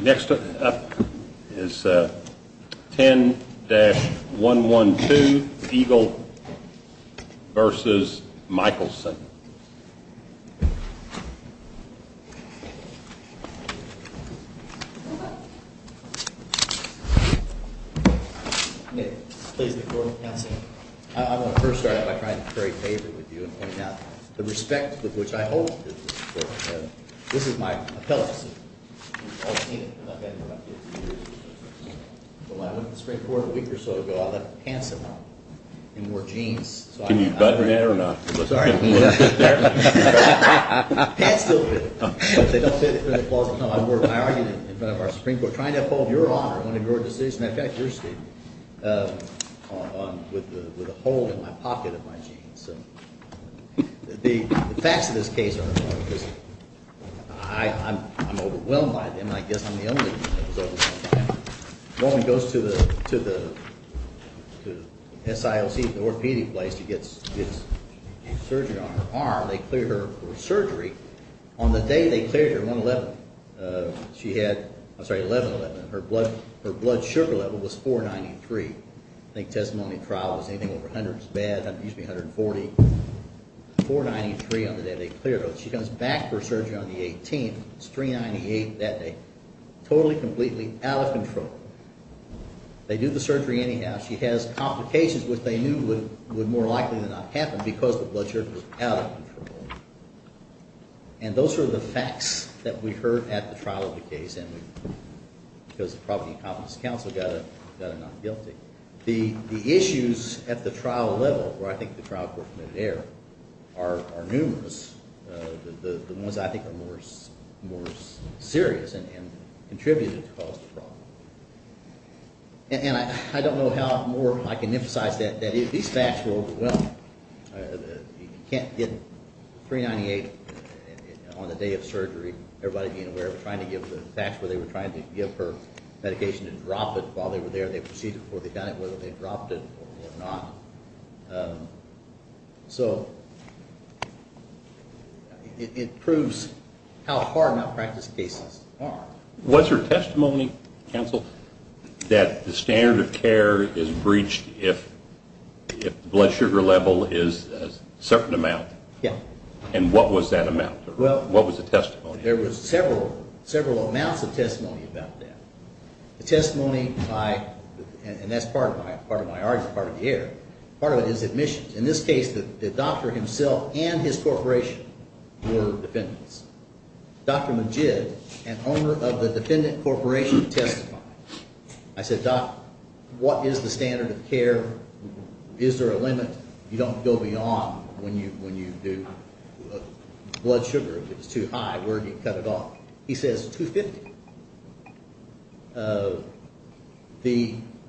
Next up is 10-112, Eagle v. Michaelson I want to first start out by trying to pray favor with you and point out the respect with which I hold you. This is my appellate suit. When I went to the Supreme Court a week ago, I argued in front of our Supreme Court, trying to uphold your honor on a court decision. In fact, yours did, with a hole in my pocket of my jeans. The facts of this case are important because I'm overwhelmed by them and I guess I'm the only one that was overwhelmed by them. to the SILC, the orthopedic place, gets a surgeon on her arm. They clear her for surgery. On the day they cleared her, 1-11, she had-I'm sorry-11-11, her blood sugar level was 493. I think testimony in trial was anything over 100 is bad, excuse me, 140. 493 on the day they cleared her, she comes back for surgery on the 18th, it's 398 that day. Totally, completely out of control. They do the surgery anyhow. She has complications which they knew would more likely than not happen because the blood sugar was out of control. And those were the facts that we heard at the trial of the case and we-because the property and competence council got a non-guilty. The issues at the trial level, where I think the trial staff were from there are numerous. The ones I think are more serious and contributed to the cause of the problem. And I don't know how more I can emphasize that. These facts were overwhelming. You can't get 398 on the day of surgery, everybody being aware, trying to give the facts where they were trying to give her medication and drop it while they were there. They proceeded before they got it, whether they dropped it or not. So it proves how hard malpractice cases are. Was there testimony, counsel, that the standard of care is breached if blood sugar level is a certain amount? Yeah. And what was that amount? What was the testimony? There was several amounts of testimony about that. The testimony by-and that's part of my argument, part of the error. Part of it is admissions. In this case, the doctor himself and his corporation were defendants. Dr. Majid, an owner of the defendant corporation, testified. I said, doc, what is the standard of care? Is there a limit? You don't go beyond when you do blood sugar. If it's too high, where do you cut it off? He says 250.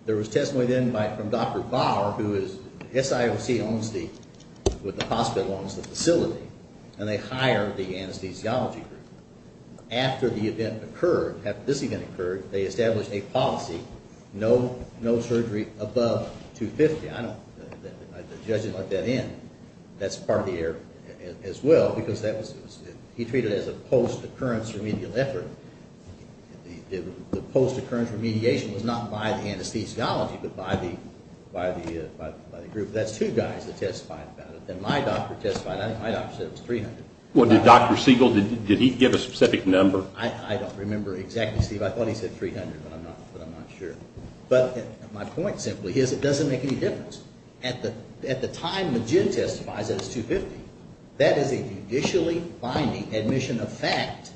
There was testimony then from Dr. Bahr, who is, SIOC owns the, with the hospital owns the facility, and they hire the anesthesiology group. After the event occurred, after this event occurred, they established a policy, no surgery above 250. I don't, the judge didn't let that in. That's part of the error as well, because that was, he treated it as a post-occurrence remedial effort. The post-occurrence remediation was not by the anesthesiology, but by the group. That's two guys that testified about it. Then my doctor testified. I think my doctor said it was 300. Well, did Dr. Siegel, did he give a specific number? I don't remember exactly, Steve. I thought he said 300, but I'm not sure. But my point simply is, it doesn't make any difference. At the time Majid testifies, it's 250. That is a judicially binding admission of fact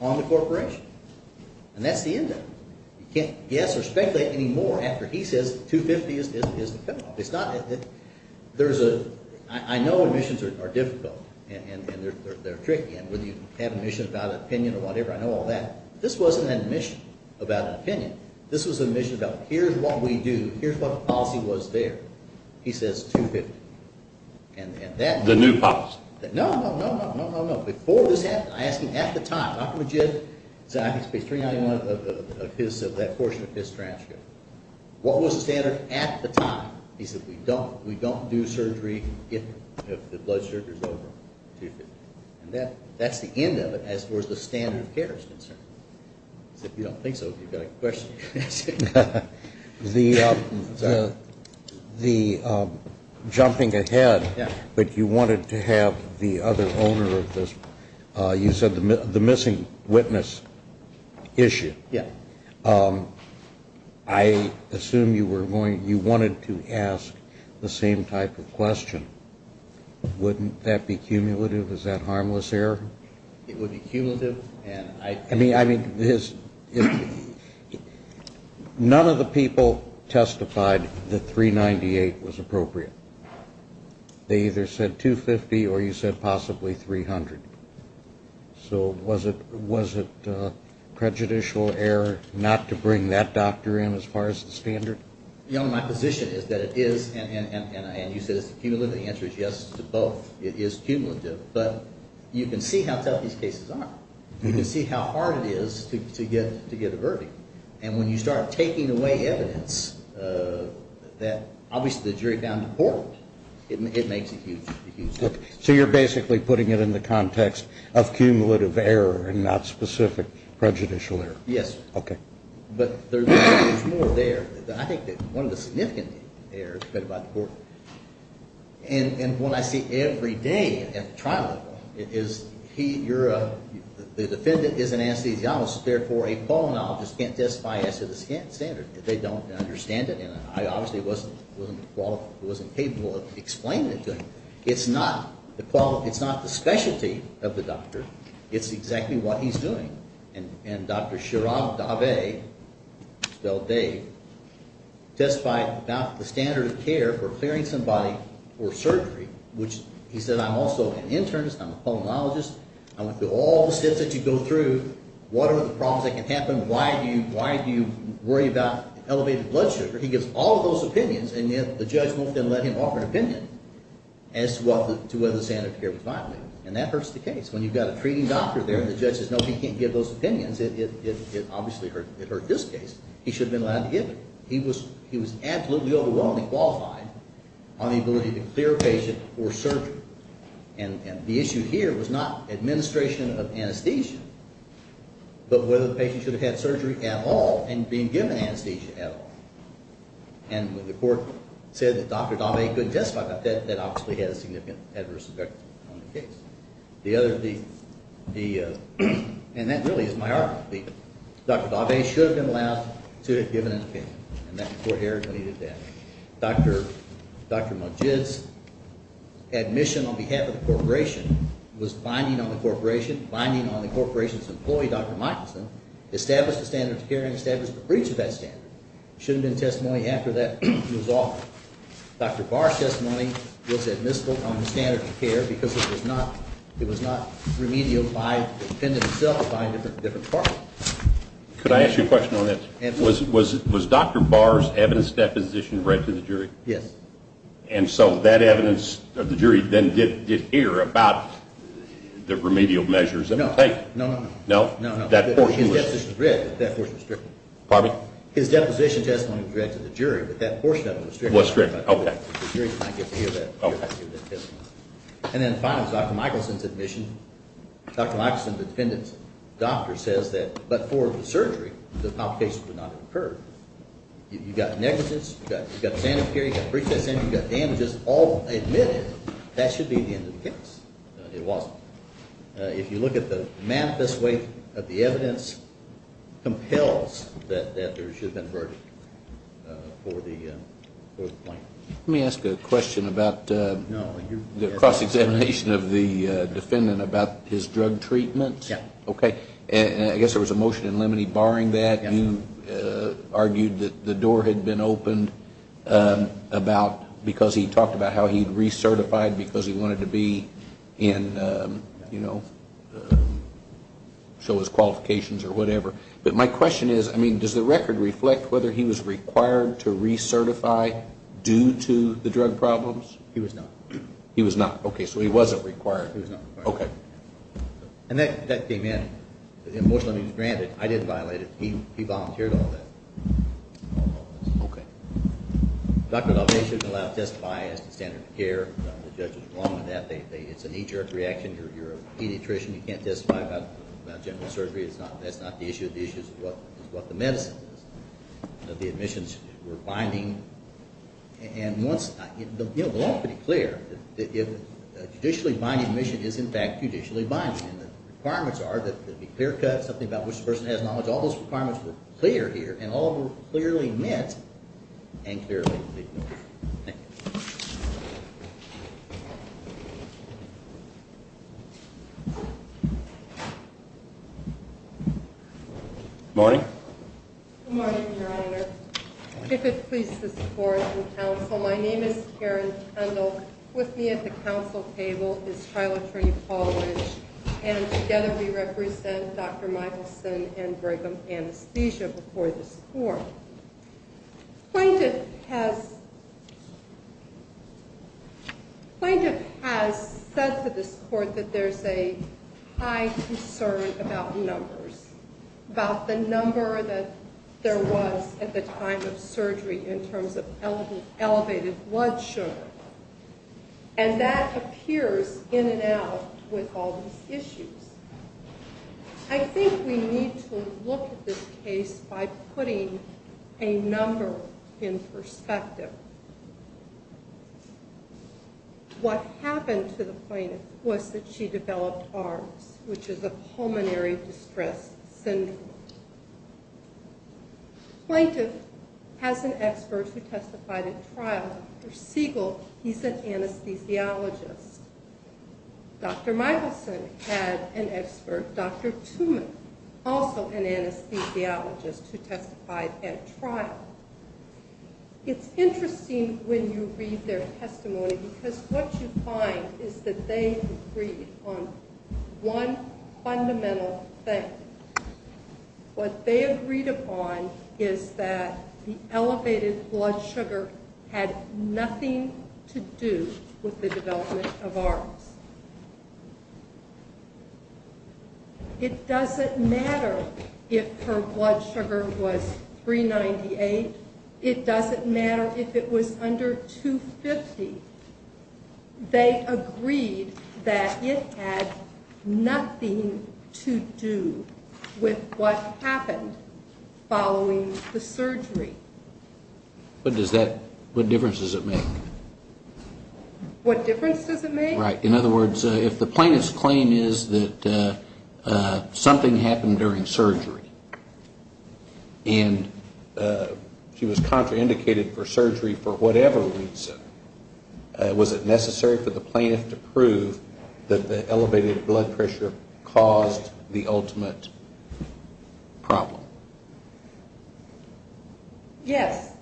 on the corporation. And that's the end of it. You can't guess or speculate anymore after he says 250 is the penalty. It's not, there's a, I know admissions are difficult, and they're tricky, and whether you have an admission about an opinion or whatever, I know all that. This wasn't an admission about an opinion. This was an admission about here's what we do, here's what the policy was there. He says 250. And that... The new policy. No, no, no, no, no, no, no. Before this happened, I asked him at the time, Dr. Majid, so I have to pay 390 of his, of that portion of his transcript. What was the standard at the time? He said we don't, we don't do surgery if the blood sugar is over 250. And that, that's the end of it as far as the standard of care is concerned. If you don't think so, you've got a question. The, the, the jumping ahead. Yeah. But you wanted to have the other owner of this, you said the missing witness issue. Yeah. I assume you were going, you wanted to ask the same type of question. Wouldn't that be It would be cumulative, and I... I mean, I mean, his... None of the people testified that 398 was appropriate. They either said 250 or you said possibly 300. So was it, was it prejudicial error not to bring that doctor in as far as the standard? You know, my position is that it is, and you said it's cumulative, the answer is yes to You can see how hard it is to, to get, to get a verdict. And when you start taking away evidence that obviously the jury found important, it makes a huge, huge difference. So you're basically putting it in the context of cumulative error and not specific prejudicial error. Yes. Okay. But there's, there's more there. I think that one of the significant errors is about the defendant is an anesthesiologist, therefore a pulmonologist can't testify as to the standard. They don't understand it, and I obviously wasn't, wasn't qualified, wasn't capable of explaining it to him. It's not the quality, it's not the specialty of the doctor, it's exactly what he's doing. And, and Dr. Shirav Dave, spelled Dave, testified about the standard of care for clearing somebody for surgery, which he said, I'm also an internist, I'm through all the steps that you go through, what are the problems that can happen, why do you, why do you worry about elevated blood sugar? He gives all of those opinions, and yet the judge won't then let him offer an opinion as to what, to whether the standard of care was violated. And that hurts the case. When you've got a treating doctor there and the judge says, no, he can't give those opinions, it, it, it, it obviously hurt, it hurt this case. He should have been allowed to give it. He was, he was absolutely overwhelmingly qualified on the ability to clear a patient for surgery. And, and the question of anesthesia, but whether the patient should have had surgery at all and being given anesthesia at all. And when the court said that Dr. Dave couldn't testify about that, that obviously had a significant adverse effect on the case. The other, the, the, and that really is my argument. The, Dr. Dave should have been allowed to have given an opinion, and that's before Harris deleted that. Dr., Dr. Majid's admission on behalf of the corporation was binding on the corporation, binding on the corporation's employee, Dr. Michaelson, established the standard of care and established the breach of that standard. There shouldn't have been testimony after that was offered. Dr. Barr's testimony was admissible on the standard of care because it was not, it was not remedial by the defendant himself or by a different, different department. Could I ask you a question on that? Yes. Was, was, was Dr. Barr's evidence deposition read to the jury? Yes. And so that evidence of the jury then did, did hear about the remedial measures that were taken? No. No, no, no. No? No, no. That portion was? His deposition was read, but that portion was stripped. Pardon me? His deposition testimony was read to the jury, but that portion of it was stripped. Was stripped. Okay. The jury did not get to hear that. Okay. And then finally, Dr. Michaelson's admission, Dr. Michaelson, the defendant's doctor, says that, but for the surgery, the complications would not have occurred. You, you got negatives, you got, you got sanitary, you got pre-test, you got damages, all admitted, that should be the end of the case. It wasn't. If you look at the manifest way that the evidence compels that, that there should have been a verdict for the, for the plaintiff. Let me ask a question about the cross-examination of the defendant about his drug treatment. Yes. Okay. And I guess there was a motion in limine barring that. Yes. And you argued that the door had been opened about, because he talked about how he had recertified because he wanted to be in, you know, show his qualifications or whatever. But my question is, I mean, does the record reflect whether he was required to recertify due to the drug problems? He was not. He was not. Okay. So he wasn't required. He was not required. Okay. And that, that came in. Most of it was granted. I didn't violate it. He, he volunteered all that. Okay. Dr. Dalvati should have been allowed to testify as to standard of care. The judge was wrong in that. They, they, it's a knee-jerk reaction. You're, you're a pediatrician. You can't testify about, about general surgery. It's not, that's not the issue. The issue is what, is what the medicine is, that the admissions were binding. And once, you know, the law is pretty clear that if a judicially binding admission is in fact judicially binding and the requirements are that there be clear cuts, something about which the person has knowledge, all those requirements were clear here and all were clearly met and clearly ignored. Thank you. Good morning. Good morning, Your Honor. If it pleases the Court and Counsel, my name is Karen Kendall and with me at the Council table is Trilateral College and together we represent Dr. Michelson and Brigham Anesthesia before this Court. Plaintiff has, Plaintiff has said to this Court that there's a high concern about numbers, about the number that there was at the time of surgery in terms of elevated blood sugar. And that appears in and out with all these issues. I think we need to look at this case by putting a number in perspective. What happened to the Plaintiff was that she developed ARMS, which is a pulmonary distress syndrome. Plaintiff has an expert who testified at trial, Dr. Siegel, he's an anesthesiologist. Dr. Michelson had an expert, Dr. Tooman, also an anesthesiologist who testified at trial. It's interesting when you read their testimony because what you find is that they agreed on one fundamental thing. What they agreed upon is that the elevated blood sugar had nothing to do with the development of ARMS. It doesn't matter if her blood sugar was 398. It doesn't matter if it was under 250. They agreed that it had nothing to do with what happened following the surgery. But does that, what difference does it make? What difference does it make? Right. In other words, if the Plaintiff's claim is that something happened during surgery and she was contraindicated for surgery for whatever reason, was it necessary for the Plaintiff to prove that the elevated blood pressure caused the ultimate problem? Yes.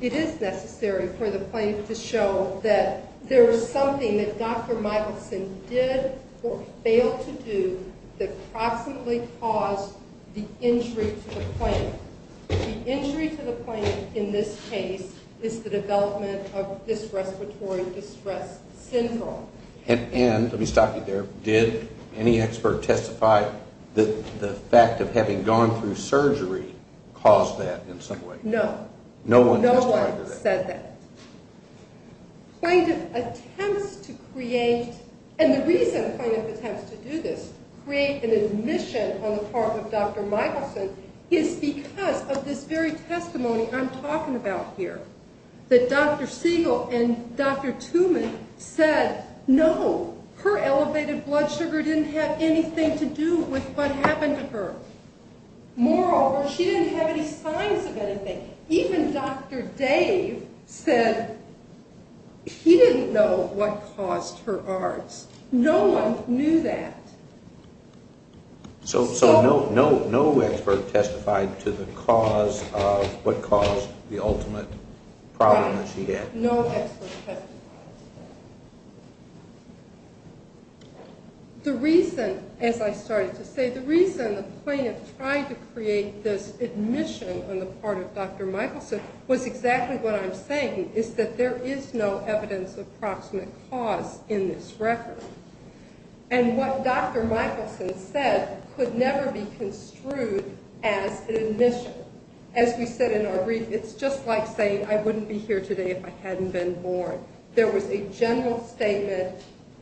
It is necessary for the Plaintiff to show that there was something that Dr. Michelson did or failed to do that proximately caused the injury to the plaintiff. The injury to the plaintiff in this case is the development of dysrespiratory distress syndrome. And, let me stop you there, did any expert testify that the fact of having gone through surgery caused that in some way? No. No one testified to that? No one said that. Plaintiff attempts to create, and the reason Plaintiff attempts to do this, create an admission on the part of Dr. Michelson, is because of this very testimony I'm talking about here. That Dr. Siegel and Dr. Tooman said, no, her elevated blood sugar didn't have anything to do with what happened to her. Moreover, she didn't have any signs of anything. Even Dr. Dave said he didn't know what caused her ARDS. No one knew that. So no expert testified to the cause of what caused the ultimate problem that she had? No expert testified to that. The reason, as I started to say, the reason the Plaintiff tried to create this admission on the part of Dr. Michelson was exactly what I'm saying, is that there is no evidence of proximate cause in this record. And what Dr. Michelson said could never be construed as an admission. As we said in our brief, it's just like saying, I wouldn't be here today if I hadn't been born. There was a general statement,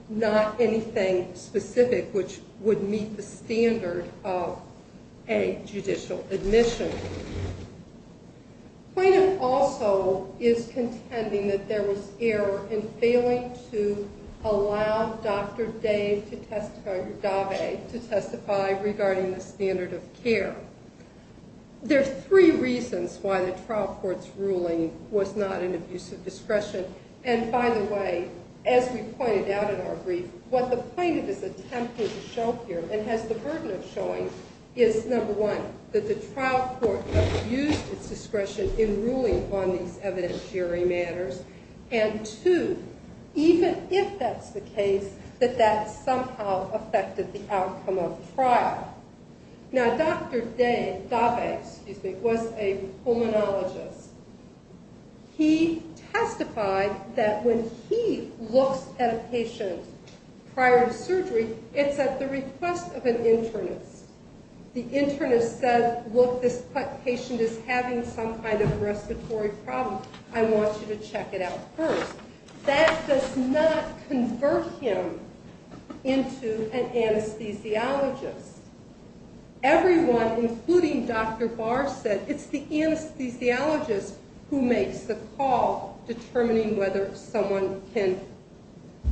not anything specific which would meet the standard of a judicial admission. The Plaintiff also is contending that there was error in failing to allow Dr. Dave to testify regarding the standard of care. There are three reasons why the trial court's ruling was not an abuse of discretion. And by the way, as we pointed out in our brief, what the Plaintiff is attempting to show here and has the burden of showing is, number one, that the trial court abused its discretion in ruling on these evidentiary matters, and two, even if that's the case, that that somehow affected the outcome of trial. Now Dr. Dave was a pulmonologist. He testified that when he looks at a patient prior to surgery, it's at the request of an internist. The internist said, look, this patient is having some kind of respiratory problem. I want you to check it out first. That does not convert him into an anesthesiologist. Everyone, including Dr. Barr, said it's the anesthesiologist who makes the call determining whether someone can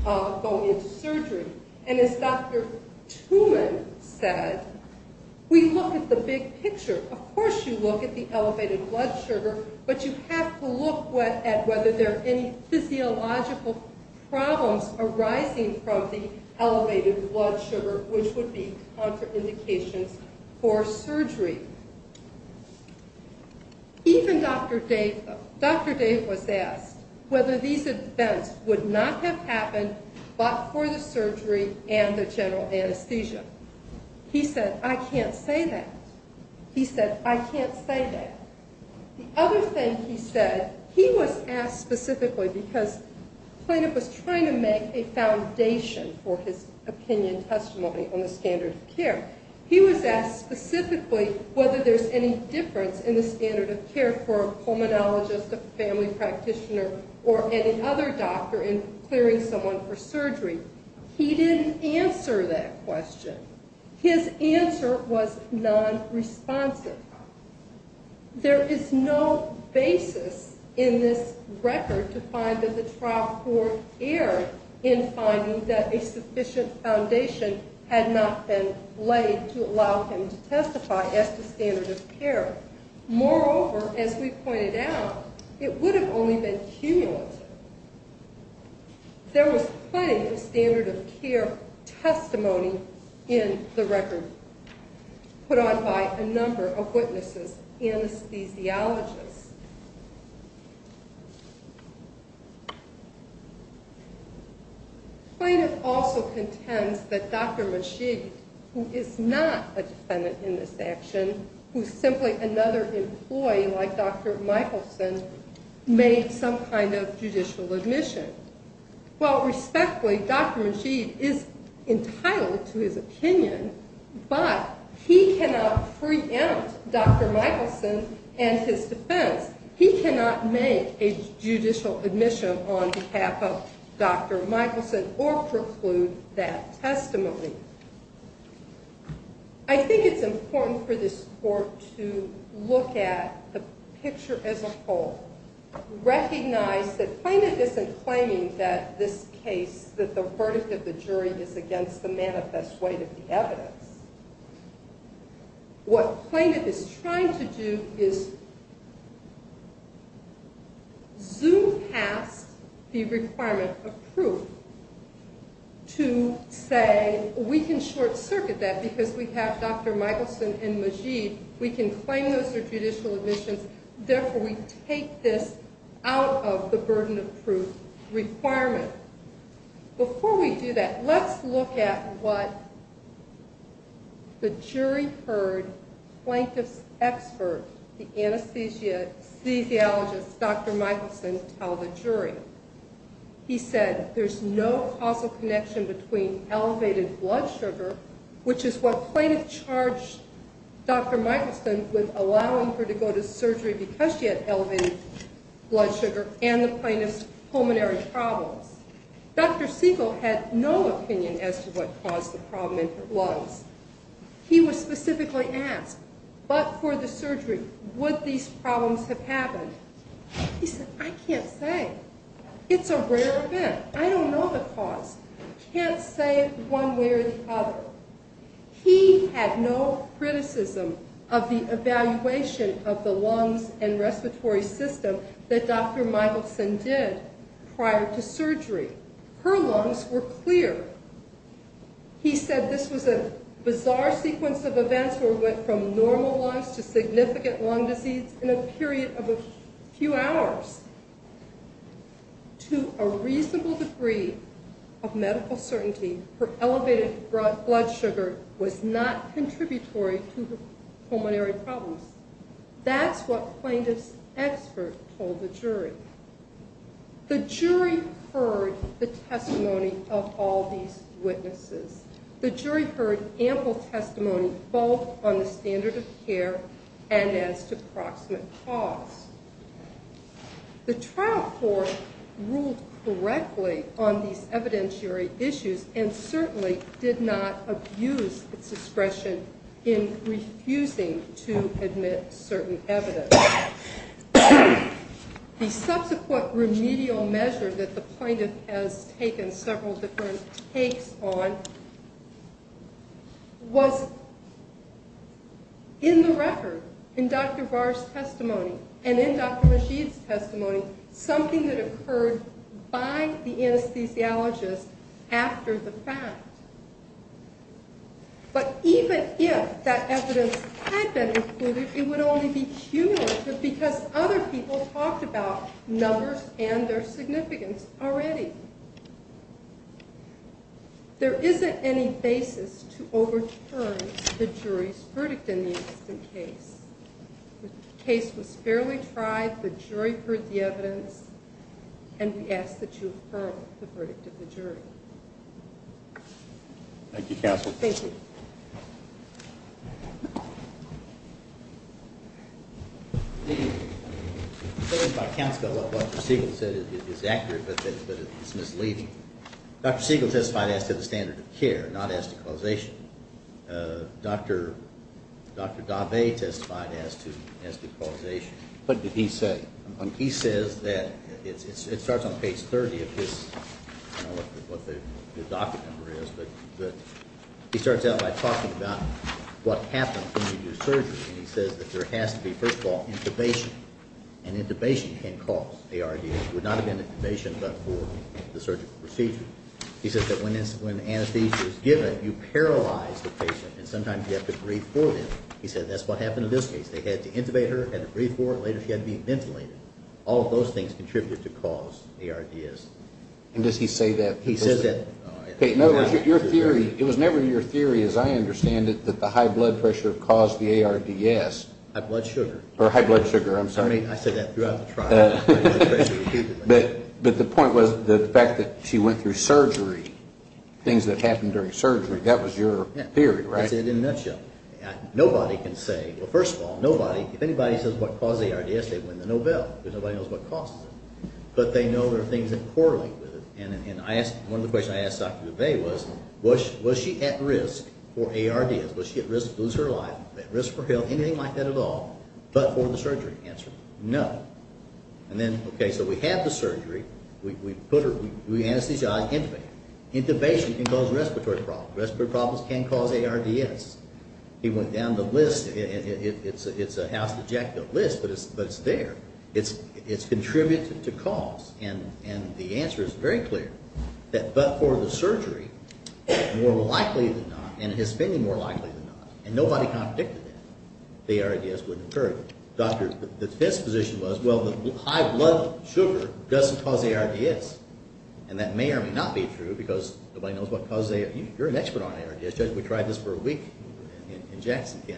go into surgery. And as Dr. Tooman said, we look at the big picture. Of course you look at the elevated blood sugar, but you have to look at whether there are any physiological problems arising from the elevated blood sugar, which would be contraindications for surgery. Even Dr. Dave was asked whether these events would not have happened but for the surgery and the general anesthesia. He said, I can't say that. He said, I can't say that. The other thing he said, he was asked specifically because the plaintiff was trying to make a foundation for his opinion testimony on the standard of care. He was asked specifically whether there's any difference in the standard of care for a pulmonologist, a family practitioner, or any other doctor in clearing someone for surgery. He didn't answer that question. His answer was nonresponsive. There is no basis in this record to find that the trial court erred in finding that a sufficient foundation had not been laid to allow him to testify as to standard of care. Moreover, as we pointed out, it would have only been cumulative. There was plenty of standard of care testimony in the record put on by a number of witnesses, anesthesiologists. The plaintiff also contends that Dr. Machig, who is not a defendant in this action, who is simply another employee like Dr. Michelson, made some kind of judicial admission. While respectfully, Dr. Machig is entitled to his opinion, but he cannot preempt Dr. Michelson and his defense. He cannot make a judicial admission on behalf of Dr. Michelson or preclude that testimony. I think it's important for this court to look at the picture as a whole, recognize that the jury is against the manifest weight of the evidence. What plaintiff is trying to do is zoom past the requirement of proof to say, we can short circuit that because we have Dr. Michelson and Machig. We can claim those are judicial admissions. Therefore, we take this out of the burden of proof requirement. Before we do that, let's look at what the jury heard plaintiff's expert, the anesthesiologist, Dr. Michelson, tell the jury. He said, there's no causal connection between elevated blood sugar, which is what plaintiff charged Dr. Michelson because she had elevated blood sugar, and the plaintiff's pulmonary problems. Dr. Siegel had no opinion as to what caused the problem in her lungs. He was specifically asked, but for the surgery, would these problems have happened? He said, I can't say. It's a rare event. I don't know the cause. I can't say it one way or the other. He had no criticism of the evaluation of the lungs and respiratory system that Dr. Michelson did prior to surgery. Her lungs were clear. He said this was a bizarre sequence of events where it went from normal lungs to significant lung disease in a period of a few hours. To a reasonable degree of pulmonary problems. That's what plaintiff's expert told the jury. The jury heard the testimony of all these witnesses. The jury heard ample testimony both on the standard of care and as to proximate cause. The trial court ruled correctly on these evidentiary issues and certainly did not abuse its discretion in refusing to admit certain evidence. The subsequent remedial measure that the plaintiff has taken several different takes on was in the record, in Dr. Barr's testimony, and in Dr. Masheed's testimony, something that occurred by the But even if that evidence had been included, it would only be cumulative because other people talked about numbers and their significance already. There isn't any basis to overturn the jury's verdict in the incident case. The case was fairly tried. The jury heard the Thank you, Counselor. Thank you. What Dr. Siegel said is accurate, but it's misleading. Dr. Siegel testified as to the standard of care, not as to causation. Dr. Daveh testified as to causation. What did He starts out by talking about what happens when you do surgery, and he says that there has to be, first of all, intubation. And intubation can cause ARDS. It would not have been intubation but for the surgical procedure. He says that when anesthesia is given, you paralyze the patient, and sometimes you have to breathe for them. He said that's what happened in this case. They had to intubate her, had to breathe for her, and later she had to be ventilated. All of those things contributed to cause ARDS. And does he say that personally? It was never your theory, as I understand it, that the high blood pressure caused the ARDS. High blood sugar. Or high blood sugar, I'm sorry. I mean, I said that throughout the trial. But the point was the fact that she went through surgery, things that happened during surgery, that was your theory, right? That's it in a nutshell. Nobody can say, well, first of all, nobody, if anybody says what caused the ARDS, they win the Nobel, because nobody knows what caused it. But they know there are things that correlate with it. And one of the questions I asked Dr. DuVey was, was she at risk for ARDS? Was she at risk to lose her life, at risk for health, anything like that at all, but for the surgery? Answer, no. And then, okay, so we had the surgery. We put her, we anesthetized her, intubated her. Intubation can cause respiratory problems. Respiratory problems can cause ARDS. He went down the list. It's a house of jacks list, but it's there. It's contributed to cause, and the answer is very clear, that but for the surgery, more likely than not, and it has been more likely than not, and nobody contradicted that, the ARDS wouldn't occur. The defense position was, well, the high blood sugar doesn't cause ARDS, and that may or may not be true, because nobody knows what causes ARDS. You're an expert on ARDS. We tried this for a week in Jackson, yeah.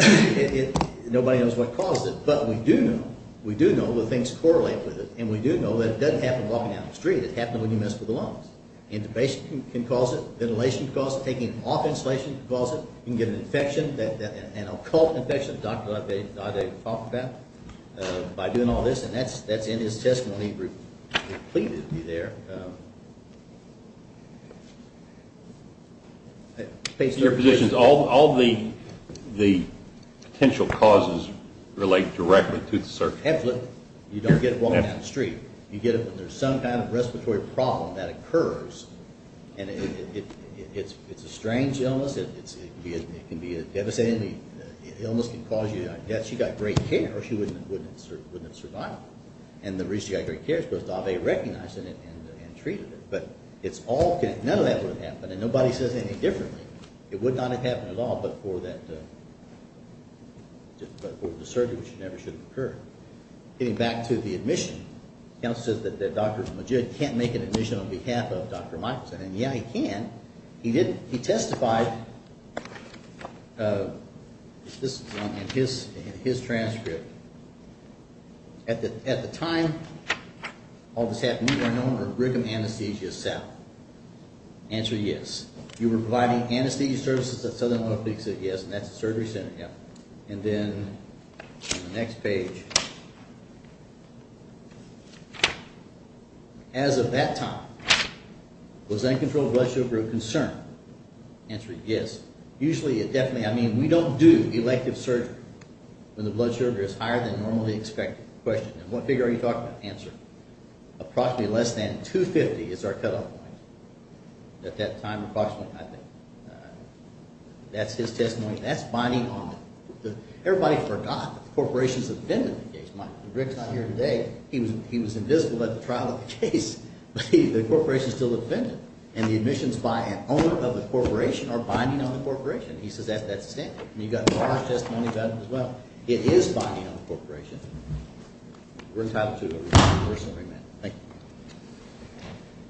It, nobody knows what caused it, but we do know, we do know that things correlate with it, and we do know that it doesn't happen walking down the street. It happens when you mess with the lungs. Intubation can cause it. Ventilation can cause it. Taking off insulation can cause it. You can get an infection, an occult infection, as Dr. LaVey talked about, by doing all this, and that's in his testimony. It's completely there. Based on your positions, all the potential causes relate directly to the surgery. Absolutely. You don't get it walking down the street. You get it when there's some kind of respiratory problem that occurs, and it's a strange illness. It can be devastating. Illness can cause you death. She got great care, or she wouldn't have survived, and the reason she got great care is because LaVey recognized it and treated it, but it's all connected. None of that would have happened, and nobody says anything differently. It would not have happened at all but for that, but for the surgery, which never should have occurred. Getting back to the admission, the counselor says that Dr. Majid can't make an admission on behalf of Dr. Michaelson, and yeah, he can. He didn't. He testified, this is in his transcript. At the time, all this happened, you are known for brigham anesthesia south. Answer, yes. You were providing anesthesia services at southern orthopedics at, yes, and that's a surgery center, yeah, and then on the next page, as of that time, was uncontrolled blood sugar a concern? Answer, yes. Usually, it definitely, I mean, we don't do elective surgery when the blood sugar is higher than normally expected. Question, what figure are you talking about? Answer, approximately less than 250 is our cutoff point at that time approximately, I think. That's his testimony. That's binding on the, everybody forgot that the corporation's offended the case. Mike, Rick's not here today. He was invisible at the trial of the case, but the corporation's still offended, and the admissions by an owner of the corporation are binding on the corporation. He says that's the standard, and you've got his testimony about it as well. It is binding on the corporation. We're entitled to a personal remand. Thank you.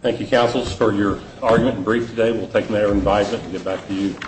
Thank you, counsels, for your argument and brief today. We'll take that as an advisement and get back to you.